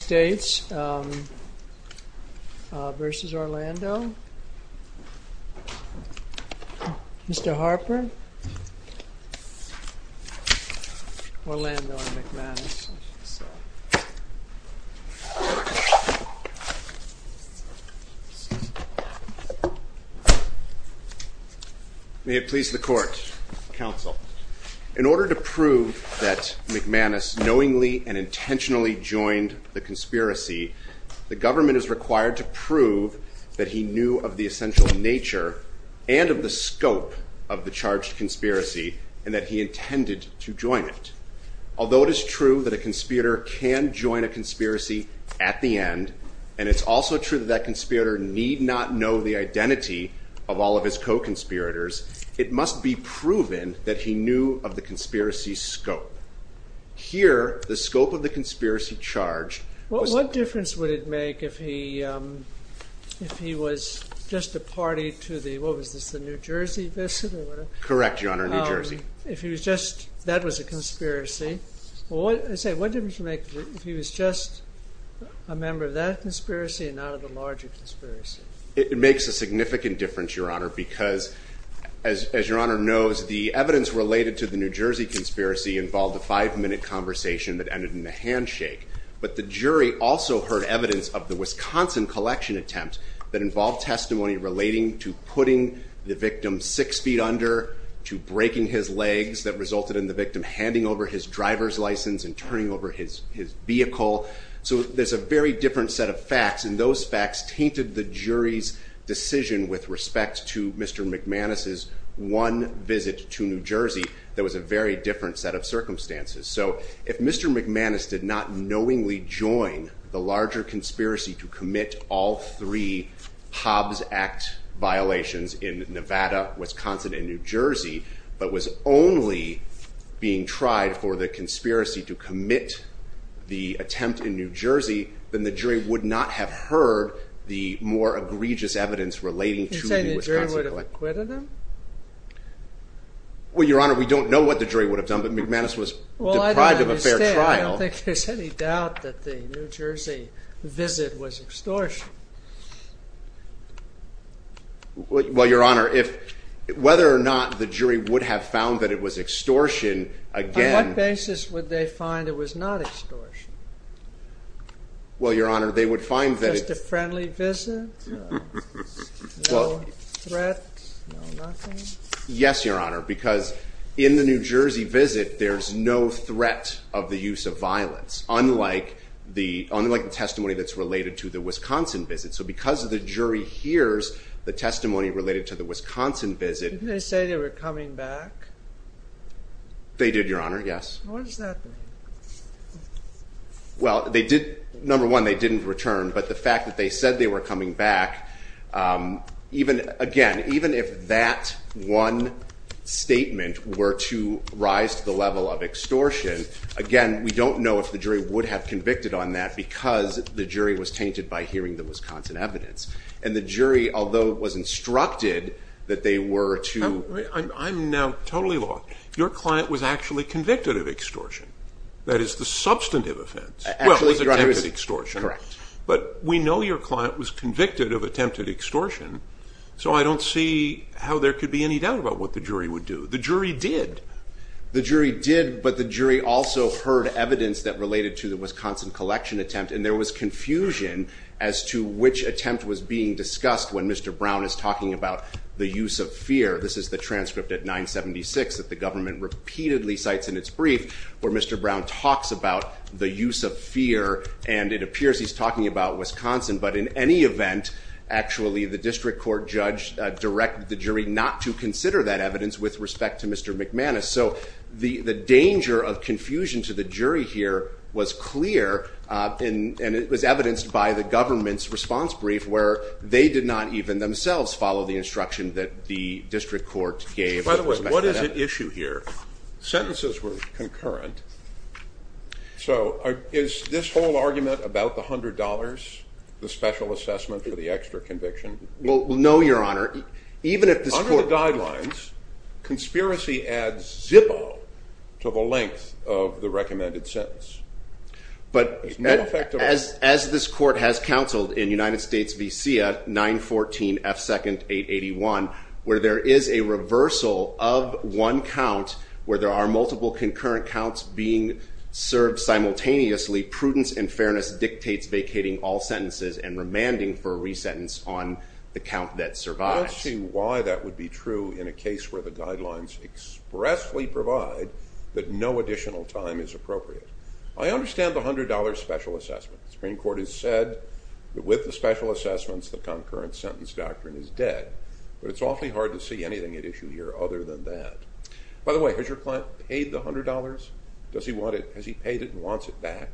States v. Orlando, Mr. Harper, Orlando v. McManus. May it please the Court, Counsel, in order to prove that McManus knowingly and intentionally joined the conspiracy, the government is required to prove that he knew of the essential nature and of the scope of the charged conspiracy and that he intended to join it. Although it is true that a conspirator can join a conspiracy at the end, and it's also true that that conspirator need not know the identity of all of his co-conspirators, it must be proven that he knew of the conspiracy's scope. Here, the scope of the conspiracy charge... What difference would it make if he was just a party to the, what was this, the New Jersey visit? Correct, Your Honor, New Jersey. If he was just, that was a conspiracy. What difference would it make if he was just a member of that conspiracy and not of the larger conspiracy? It makes a significant difference, Your Honor, because, as Your Honor knows, the evidence related to the New Jersey conspiracy involved a five-minute conversation that ended in a handshake. But the jury also heard evidence of the Wisconsin collection attempt that involved testimony relating to putting the victim six feet under, to breaking his legs that resulted in the victim handing over his driver's license and turning over his vehicle. So there's a very different set of facts, and those facts tainted the jury's decision with respect to Mr. McManus's one visit to New Jersey that was a very different set of circumstances. So if Mr. McManus did not knowingly join the larger conspiracy to commit all three Hobbs Act violations in Nevada, Wisconsin, and New Jersey, but was only being tried for the conspiracy to commit the attempt in New Jersey, then the jury would not have heard the more egregious evidence relating to the Wisconsin collection. You're saying the jury would have acquitted him? Well, Your Honor, we don't know what the jury would have done, but McManus was deprived of a fair trial. Well, I don't understand. I don't think there's any doubt that the New Jersey visit was extortion. Well, Your Honor, whether or not the jury would have found that it was extortion, again... On what basis would they find it was not extortion? Well, Your Honor, they would find that it... No threat, no nothing? Yes, Your Honor, because in the New Jersey visit, there's no threat of the use of violence, unlike the testimony that's related to the Wisconsin visit. So because the jury hears the testimony related to the Wisconsin visit... Didn't they say they were coming back? They did, Your Honor, yes. What does that mean? Well, number one, they didn't return, but the fact that they said they were coming back, again, even if that one statement were to rise to the level of extortion, again, we don't know if the jury would have convicted on that because the jury was tainted by hearing the Wisconsin evidence. And the jury, although it was instructed that they were to... I'm now totally lost. Your client was actually convicted of extortion. That is the substantive offense. Well, it was attempted extortion. But we know your client was convicted of attempted extortion, so I don't see how there could be any doubt about what the jury would do. The jury did. The jury did, but the jury also heard evidence that related to the Wisconsin collection attempt, and there was confusion as to which attempt was being discussed when Mr. Brown is talking about the use of fear. This is the transcript at 976 that the government repeatedly cites in its brief where Mr. Brown talks about the use of fear, and it appears he's talking about Wisconsin. But in any event, actually, the district court judge directed the jury not to consider that evidence with respect to Mr. McManus. So the danger of confusion to the jury here was clear, and it was evidenced by the government's response brief where they did not even themselves follow the instruction that the district court gave. By the way, what is at issue here? Sentences were concurrent. So is this whole argument about the $100, the special assessment for the extra conviction? Well, no, Your Honor. Under the guidelines, conspiracy adds Zippo to the length of the recommended sentence. But as this court has counseled in United States v. CIA, 914F2nd881, where there is a reversal of one count, where there are multiple concurrent counts being served simultaneously, prudence and fairness dictates vacating all sentences and remanding for a resentence on the count that survives. I don't see why that would be true in a case where the guidelines expressly provide that no additional time is appropriate. I understand the $100 special assessment. The Supreme Court has said that with the special assessments, the concurrent sentence doctrine is dead. But it's awfully hard to see anything at issue here other than that. By the way, has your client paid the $100? Has he paid it and wants it back?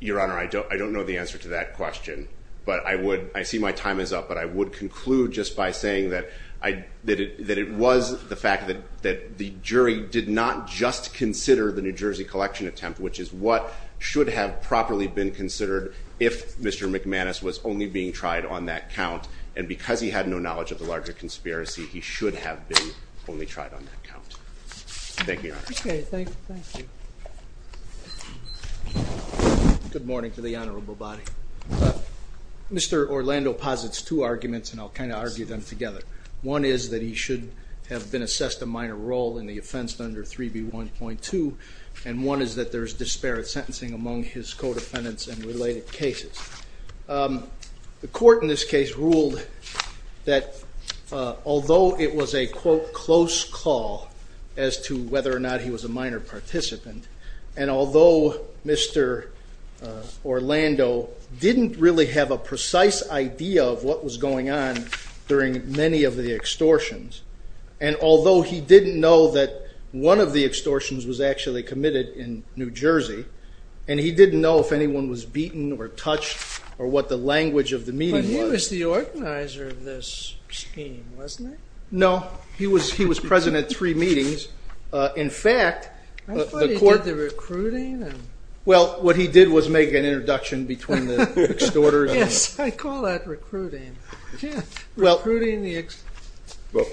Your Honor, I don't know the answer to that question. I see my time is up, but I would conclude just by saying that it was the fact that the jury did not just consider the New Jersey collection attempt, which is what should have properly been considered if Mr. McManus was only being tried on that count. And because he had no knowledge of the larger conspiracy, he should have been only tried on that count. Thank you, Your Honor. Okay, thank you. Good morning to the honorable body. Mr. Orlando posits two arguments, and I'll kind of argue them together. One is that he should have been assessed a minor role in the offense under 3B1.2, and one is that there is disparate sentencing among his co-defendants in related cases. The court in this case ruled that although it was a, quote, close call as to whether or not he was a minor participant, and although Mr. Orlando didn't really have a precise idea of what was going on during many of the extortions, and although he didn't know that one of the extortions was actually committed in New Jersey, and he didn't know if anyone was beaten or touched or what the language of the meeting was. But he was the organizer of this scheme, wasn't he? No, he was present at three meetings. I thought he did the recruiting. Well, what he did was make an introduction between the extorters. Yes, I call that recruiting. Recruiting the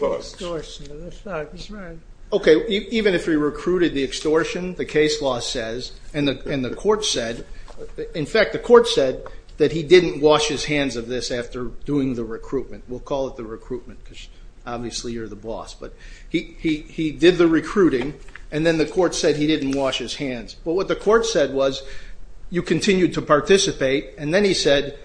extortion of the thugs. Okay, even if he recruited the extortion, the case law says, and the court said, in fact, the court said that he didn't wash his hands of this after doing the recruitment. We'll call it the recruitment because obviously you're the boss. But he did the recruiting, and then the court said he didn't wash his hands. But what the court said was you continued to participate, and then he said,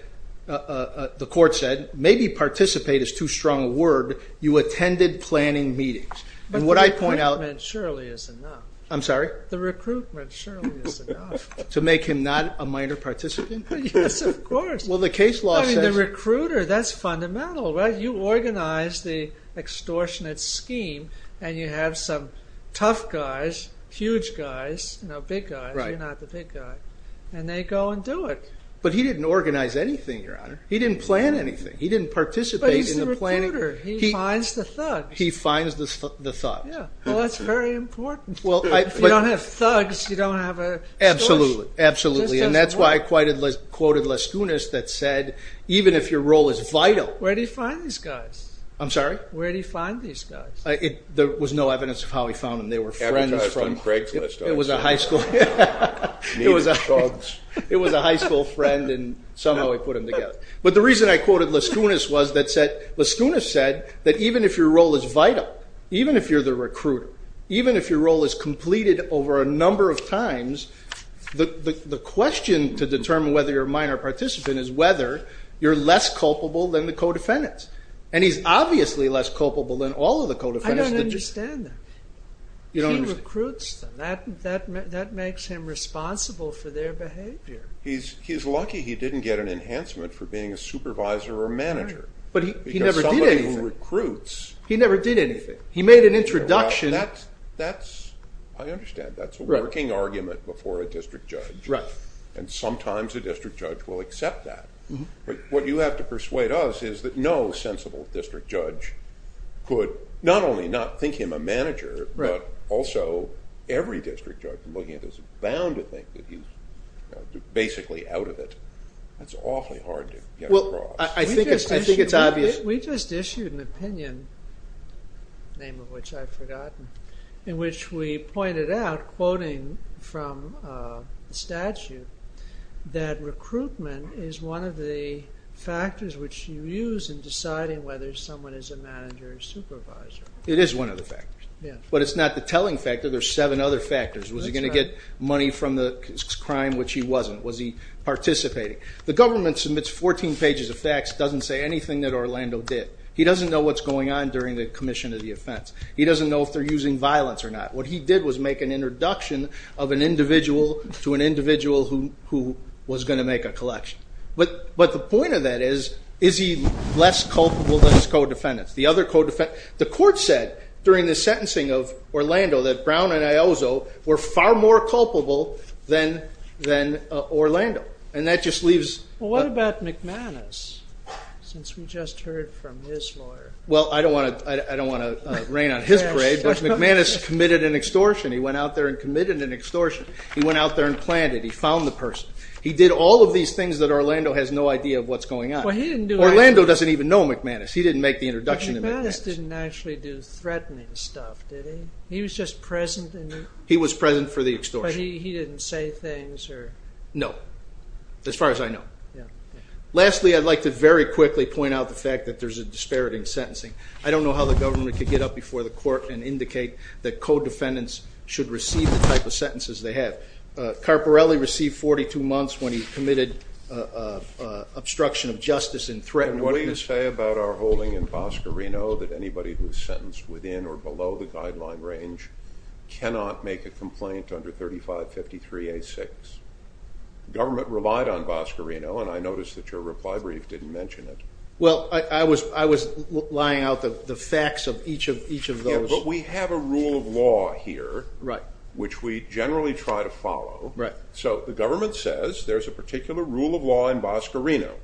the court said, maybe participate is too strong a word, you attended planning meetings. But the recruitment surely is enough. I'm sorry? The recruitment surely is enough. To make him not a minor participant? Yes, of course. Well, the case law says. I mean, the recruiter, that's fundamental, right? You organize the extortionate scheme, and you have some tough guys, huge guys, big guys, you're not the big guy, and they go and do it. But he didn't organize anything, Your Honor. He didn't plan anything. He didn't participate in the planning. But he's the recruiter. He finds the thugs. He finds the thugs. Well, that's very important. If you don't have thugs, you don't have extortion. Absolutely, absolutely. And that's why I quoted Lascunas that said, even if your role is vital. Where did he find these guys? I'm sorry? Where did he find these guys? There was no evidence of how he found them. They were friends. Advertised on Craigslist, I would say. It was a high school friend, and somehow he put them together. But the reason I quoted Lascunas was that Lascunas said that even if your role is vital, even if you're the recruiter, even if your role is completed over a number of times, the question to determine whether you're a minor participant is whether you're less culpable than the co-defendants. And he's obviously less culpable than all of the co-defendants. I don't understand that. You don't understand? He recruits them. That makes him responsible for their behavior. He's lucky he didn't get an enhancement for being a supervisor or a manager. But he never did anything. Because somebody who recruits. He never did anything. He made an introduction. I understand. That's a working argument before a district judge. And sometimes a district judge will accept that. What you have to persuade us is that no sensible district judge could not only not think him a manager, but also every district judge from looking at this is bound to think that he's basically out of it. That's awfully hard to get across. I think it's obvious. We just issued an opinion, the name of which I've forgotten, in which we pointed out, quoting from the statute, that recruitment is one of the factors which you use in deciding whether someone is a manager or supervisor. It is one of the factors. But it's not the telling factor. There are seven other factors. Was he going to get money from the crime, which he wasn't? Was he participating? The government submits 14 pages of facts, doesn't say anything that Orlando did. He doesn't know what's going on during the commission of the offense. He doesn't know if they're using violence or not. What he did was make an introduction of an individual to an individual who was going to make a collection. But the point of that is, is he less culpable than his co-defendants? The court said during the sentencing of Orlando that Brown and Iozzo were far more culpable than Orlando. What about McManus, since we just heard from his lawyer? I don't want to rain on his parade, but McManus committed an extortion. He went out there and committed an extortion. He went out there and planned it. He found the person. He did all of these things that Orlando has no idea of what's going on. Orlando doesn't even know McManus. He didn't make the introduction to McManus. McManus didn't actually do threatening stuff, did he? He was just present. He was present for the extortion. But he didn't say things? No, as far as I know. Lastly, I'd like to very quickly point out the fact that there's a disparity in sentencing. I don't know how the government could get up before the court and indicate that co-defendants should receive the type of sentences they have. Carparelli received 42 months when he committed obstruction of justice in threatening witness. What does it say about our holding in Bosco Reno that anybody who is sentenced within or below the guideline range cannot make a complaint under 3553A6? The government relied on Bosco Reno, and I noticed that your reply brief didn't mention it. Well, I was lying out the facts of each of those. Yeah, but we have a rule of law here, which we generally try to follow. So the government says there's a particular rule of law in Bosco Reno,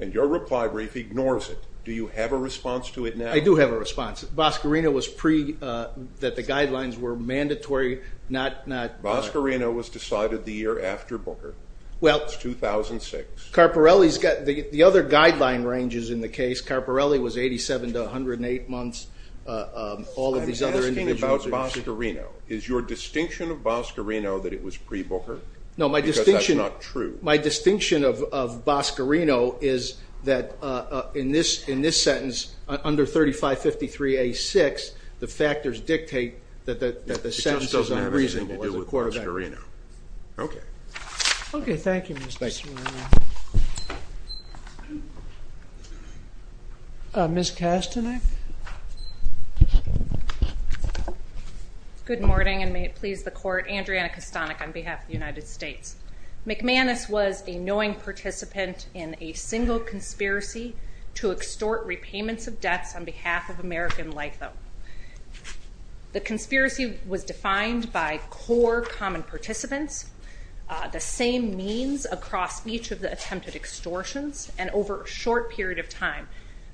and your reply brief ignores it. Do you have a response to it now? I do have a response. Bosco Reno was pre- that the guidelines were mandatory, not- Bosco Reno was decided the year after Booker. Well- It's 2006. Carparelli's got the other guideline ranges in the case. Carparelli was 87 to 108 months. I'm asking about Bosco Reno. Is your distinction of Bosco Reno that it was pre-Booker? No, my distinction- Because that's not true. My distinction of Bosco Reno is that in this sentence, under 3553A6, the factors dictate that the sentence is unreasonable. It just doesn't have anything to do with Bosco Reno. Okay. Okay, thank you, Mr. Smirnoff. Ms. Kastanek? Good morning, and may it please the Court. Andriana Kastanek on behalf of the United States. McManus was a knowing participant in a single conspiracy to extort repayments of debts on behalf of American LIFO. The conspiracy was defined by core common participants, the same means across each of the attempted extortions, and over a short period of time.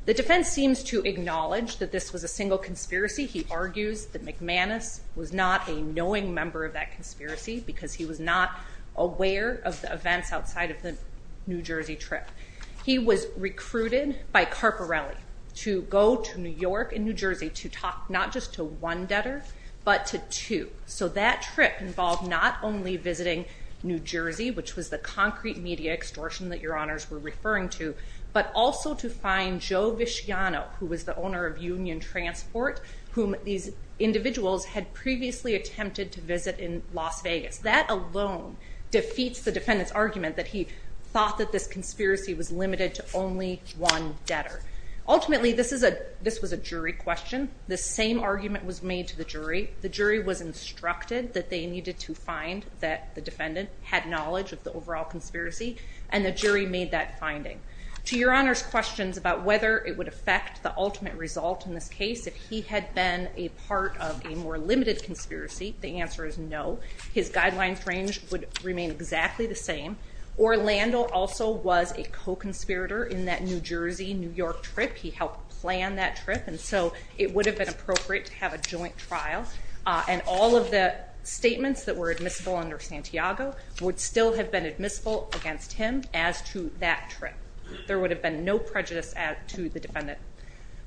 The defense seems to acknowledge that this was a single conspiracy. He argues that McManus was not a knowing member of that conspiracy because he was not aware of the events outside of the New Jersey trip. He was recruited by Carparelli to go to New York and New Jersey to talk not just to one debtor, but to two. So that trip involved not only visiting New Jersey, which was the concrete media extortion that your Honors were referring to, but also to find Joe Visciano, who was the owner of Union Transport, whom these individuals had previously attempted to visit in Las Vegas. That alone defeats the defendant's argument that he thought that this conspiracy was limited to only one debtor. Ultimately, this was a jury question. The same argument was made to the jury. The jury was instructed that they needed to find that the defendant had knowledge of the overall conspiracy, and the jury made that finding. To your Honor's questions about whether it would affect the ultimate result in this case if he had been a part of a more limited conspiracy, the answer is no. His guidelines range would remain exactly the same. Orlando also was a co-conspirator in that New Jersey-New York trip. He helped plan that trip, and so it would have been appropriate to have a joint trial, and all of the statements that were admissible under Santiago would still have been admissible against him as to that trip. There would have been no prejudice to the defendant.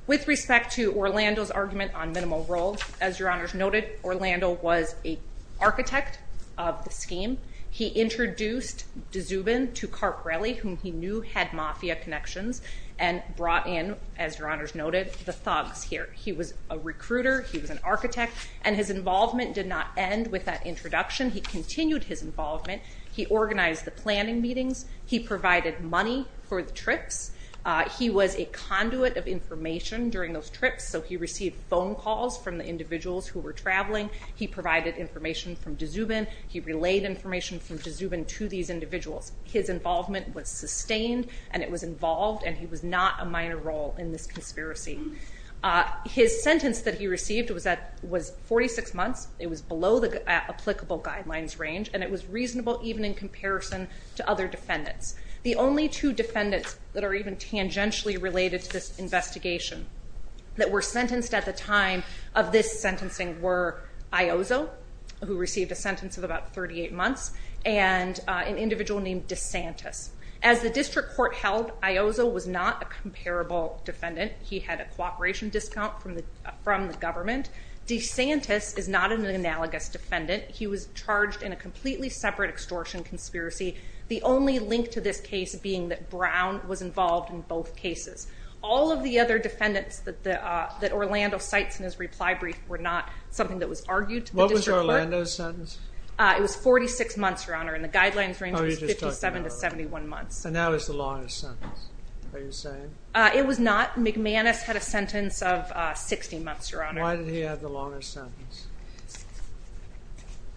With respect to Orlando's argument on minimal role, as Your Honor's noted, Orlando was an architect of the scheme. He introduced de Zubin to Carparelli, whom he knew had mafia connections, and brought in, as Your Honor's noted, the thugs here. He was a recruiter. He was an architect, and his involvement did not end with that introduction. He continued his involvement. He organized the planning meetings. He provided money for the trips. He was a conduit of information during those trips, so he received phone calls from the individuals who were traveling. He provided information from de Zubin. He relayed information from de Zubin to these individuals. His involvement was sustained, and it was involved, and he was not a minor role in this conspiracy. His sentence that he received was 46 months. It was below the applicable guidelines range, and it was reasonable even in comparison to other defendants. The only two defendants that are even tangentially related to this investigation that were sentenced at the time of this sentencing were Iozo, who received a sentence of about 38 months, and an individual named DeSantis. As the district court held, Iozo was not a comparable defendant. He had a cooperation discount from the government. DeSantis is not an analogous defendant. He was charged in a completely separate extortion conspiracy. The only link to this case being that Brown was involved in both cases. All of the other defendants that Orlando cites in his reply brief were not something that was argued to the district court. What was Orlando's sentence? It was 46 months, Your Honor, and the guidelines range was 57 to 71 months. And that was the longest sentence, are you saying? It was not. McManus had a sentence of 60 months, Your Honor. Why did he have the longest sentence?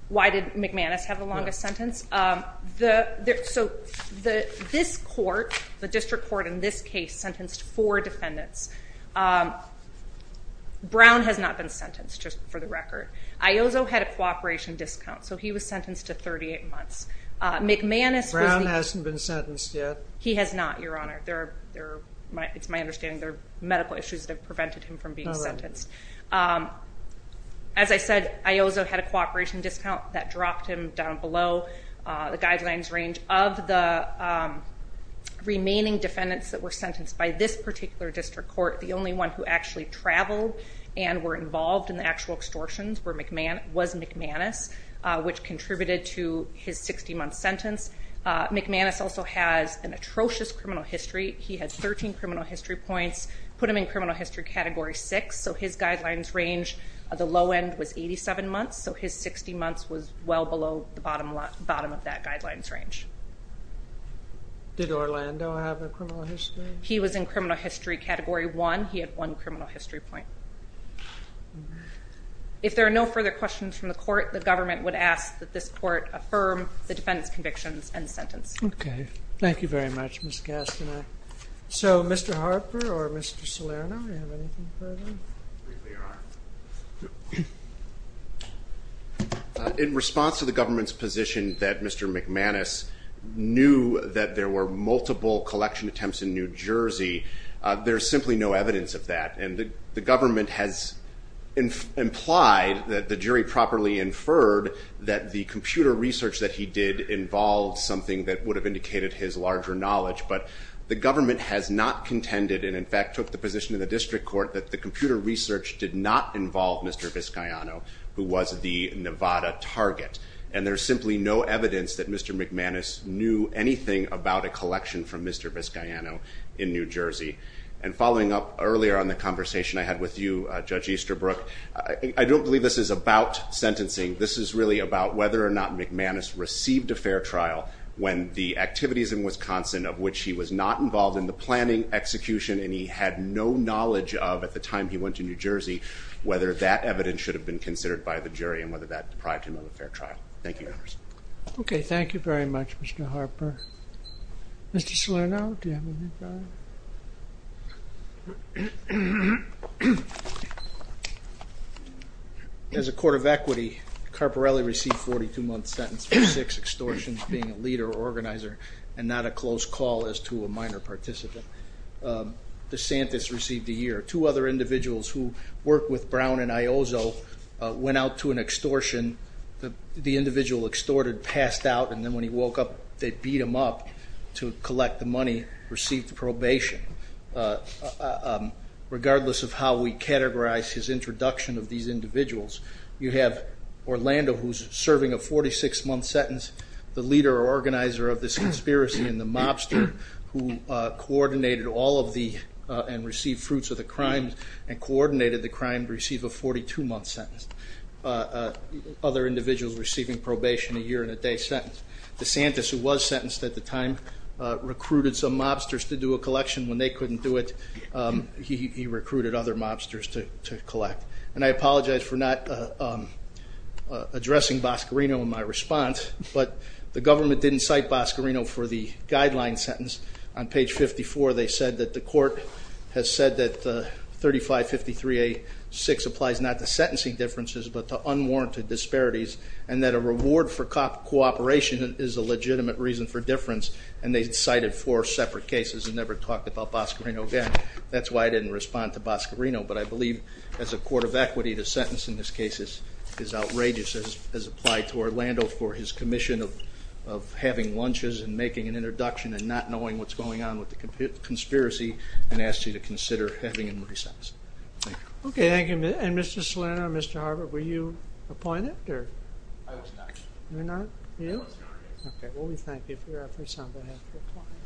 Why did McManus have the longest sentence? So this court, the district court in this case, sentenced four defendants. Brown has not been sentenced, just for the record. Iozo had a cooperation discount, so he was sentenced to 38 months. Brown hasn't been sentenced yet? He has not, Your Honor. It's my understanding there are medical issues that have prevented him from being sentenced. As I said, Iozo had a cooperation discount. That dropped him down below the guidelines range. Of the remaining defendants that were sentenced by this particular district court, the only one who actually traveled and were involved in the actual extortions was McManus, which contributed to his 60-month sentence. McManus also has an atrocious criminal history. He had 13 criminal history points, put him in criminal history category 6, so his guidelines range at the low end was 87 months, so his 60 months was well below the bottom of that guidelines range. Did Orlando have a criminal history? He was in criminal history category 1. He had one criminal history point. If there are no further questions from the court, the government would ask that this court affirm the defendant's convictions and sentence. Okay. Thank you very much, Ms. Castaner. Mr. Harper or Mr. Salerno, do you have anything further? In response to the government's position that Mr. McManus knew that there were multiple collection attempts in New Jersey, there is simply no evidence of that. The government has implied that the jury properly inferred that the computer research that he did involved something that would have indicated his larger knowledge, but the government has not contended and, in fact, took the position in the district court that the computer research did not involve Mr. Viscayano, who was the Nevada target, and there's simply no evidence that Mr. McManus knew anything about a collection from Mr. Viscayano in New Jersey. And following up earlier on the conversation I had with you, Judge Easterbrook, I don't believe this is about sentencing. This is really about whether or not McManus received a fair trial when the activities in Wisconsin of which he was not involved in the planning, execution, and he had no knowledge of at the time he went to New Jersey, whether that evidence should have been considered by the jury and whether that deprived him of a fair trial. Thank you. Okay, thank you very much, Mr. Harper. Mr. Salerno, do you have anything? As a court of equity, Carparelli received a 42-month sentence for six extortions, being a leader or organizer and not a close call as to a minor participant. DeSantis received a year. Two other individuals who worked with Brown and Iozzo went out to an extortion. The individual extorted passed out, and then when he woke up, they beat him up to collect the money, received probation. Regardless of how we categorize his introduction of these individuals, you have Orlando, who is serving a 46-month sentence, the leader or organizer of this conspiracy and the mobster who coordinated all of the and received fruits of the crimes and coordinated the crime to receive a 42-month sentence. Other individuals receiving probation, a year and a day sentence. DeSantis, who was sentenced at the time, recruited some mobsters to do a collection. When they couldn't do it, he recruited other mobsters to collect. And I apologize for not addressing Boscorino in my response, but the government didn't cite Boscorino for the guideline sentence. On page 54, they said that the court has said that 3553A6 applies not to sentencing differences but to unwarranted disparities and that a reward for cooperation is a legitimate reason for difference, and they cited four separate cases and never talked about Boscorino again. That's why I didn't respond to Boscorino, but I believe as a court of equity, the sentence in this case is outrageous as applied to Orlando for his commission of having lunches and making an introduction and not knowing what's going on with the conspiracy and asked you to consider having him re-sentenced. Okay, thank you. And Mr. Salerno, Mr. Harvard, were you appointed? I was not. You were not? I was. Okay, well, we thank you for your efforts on behalf of your client.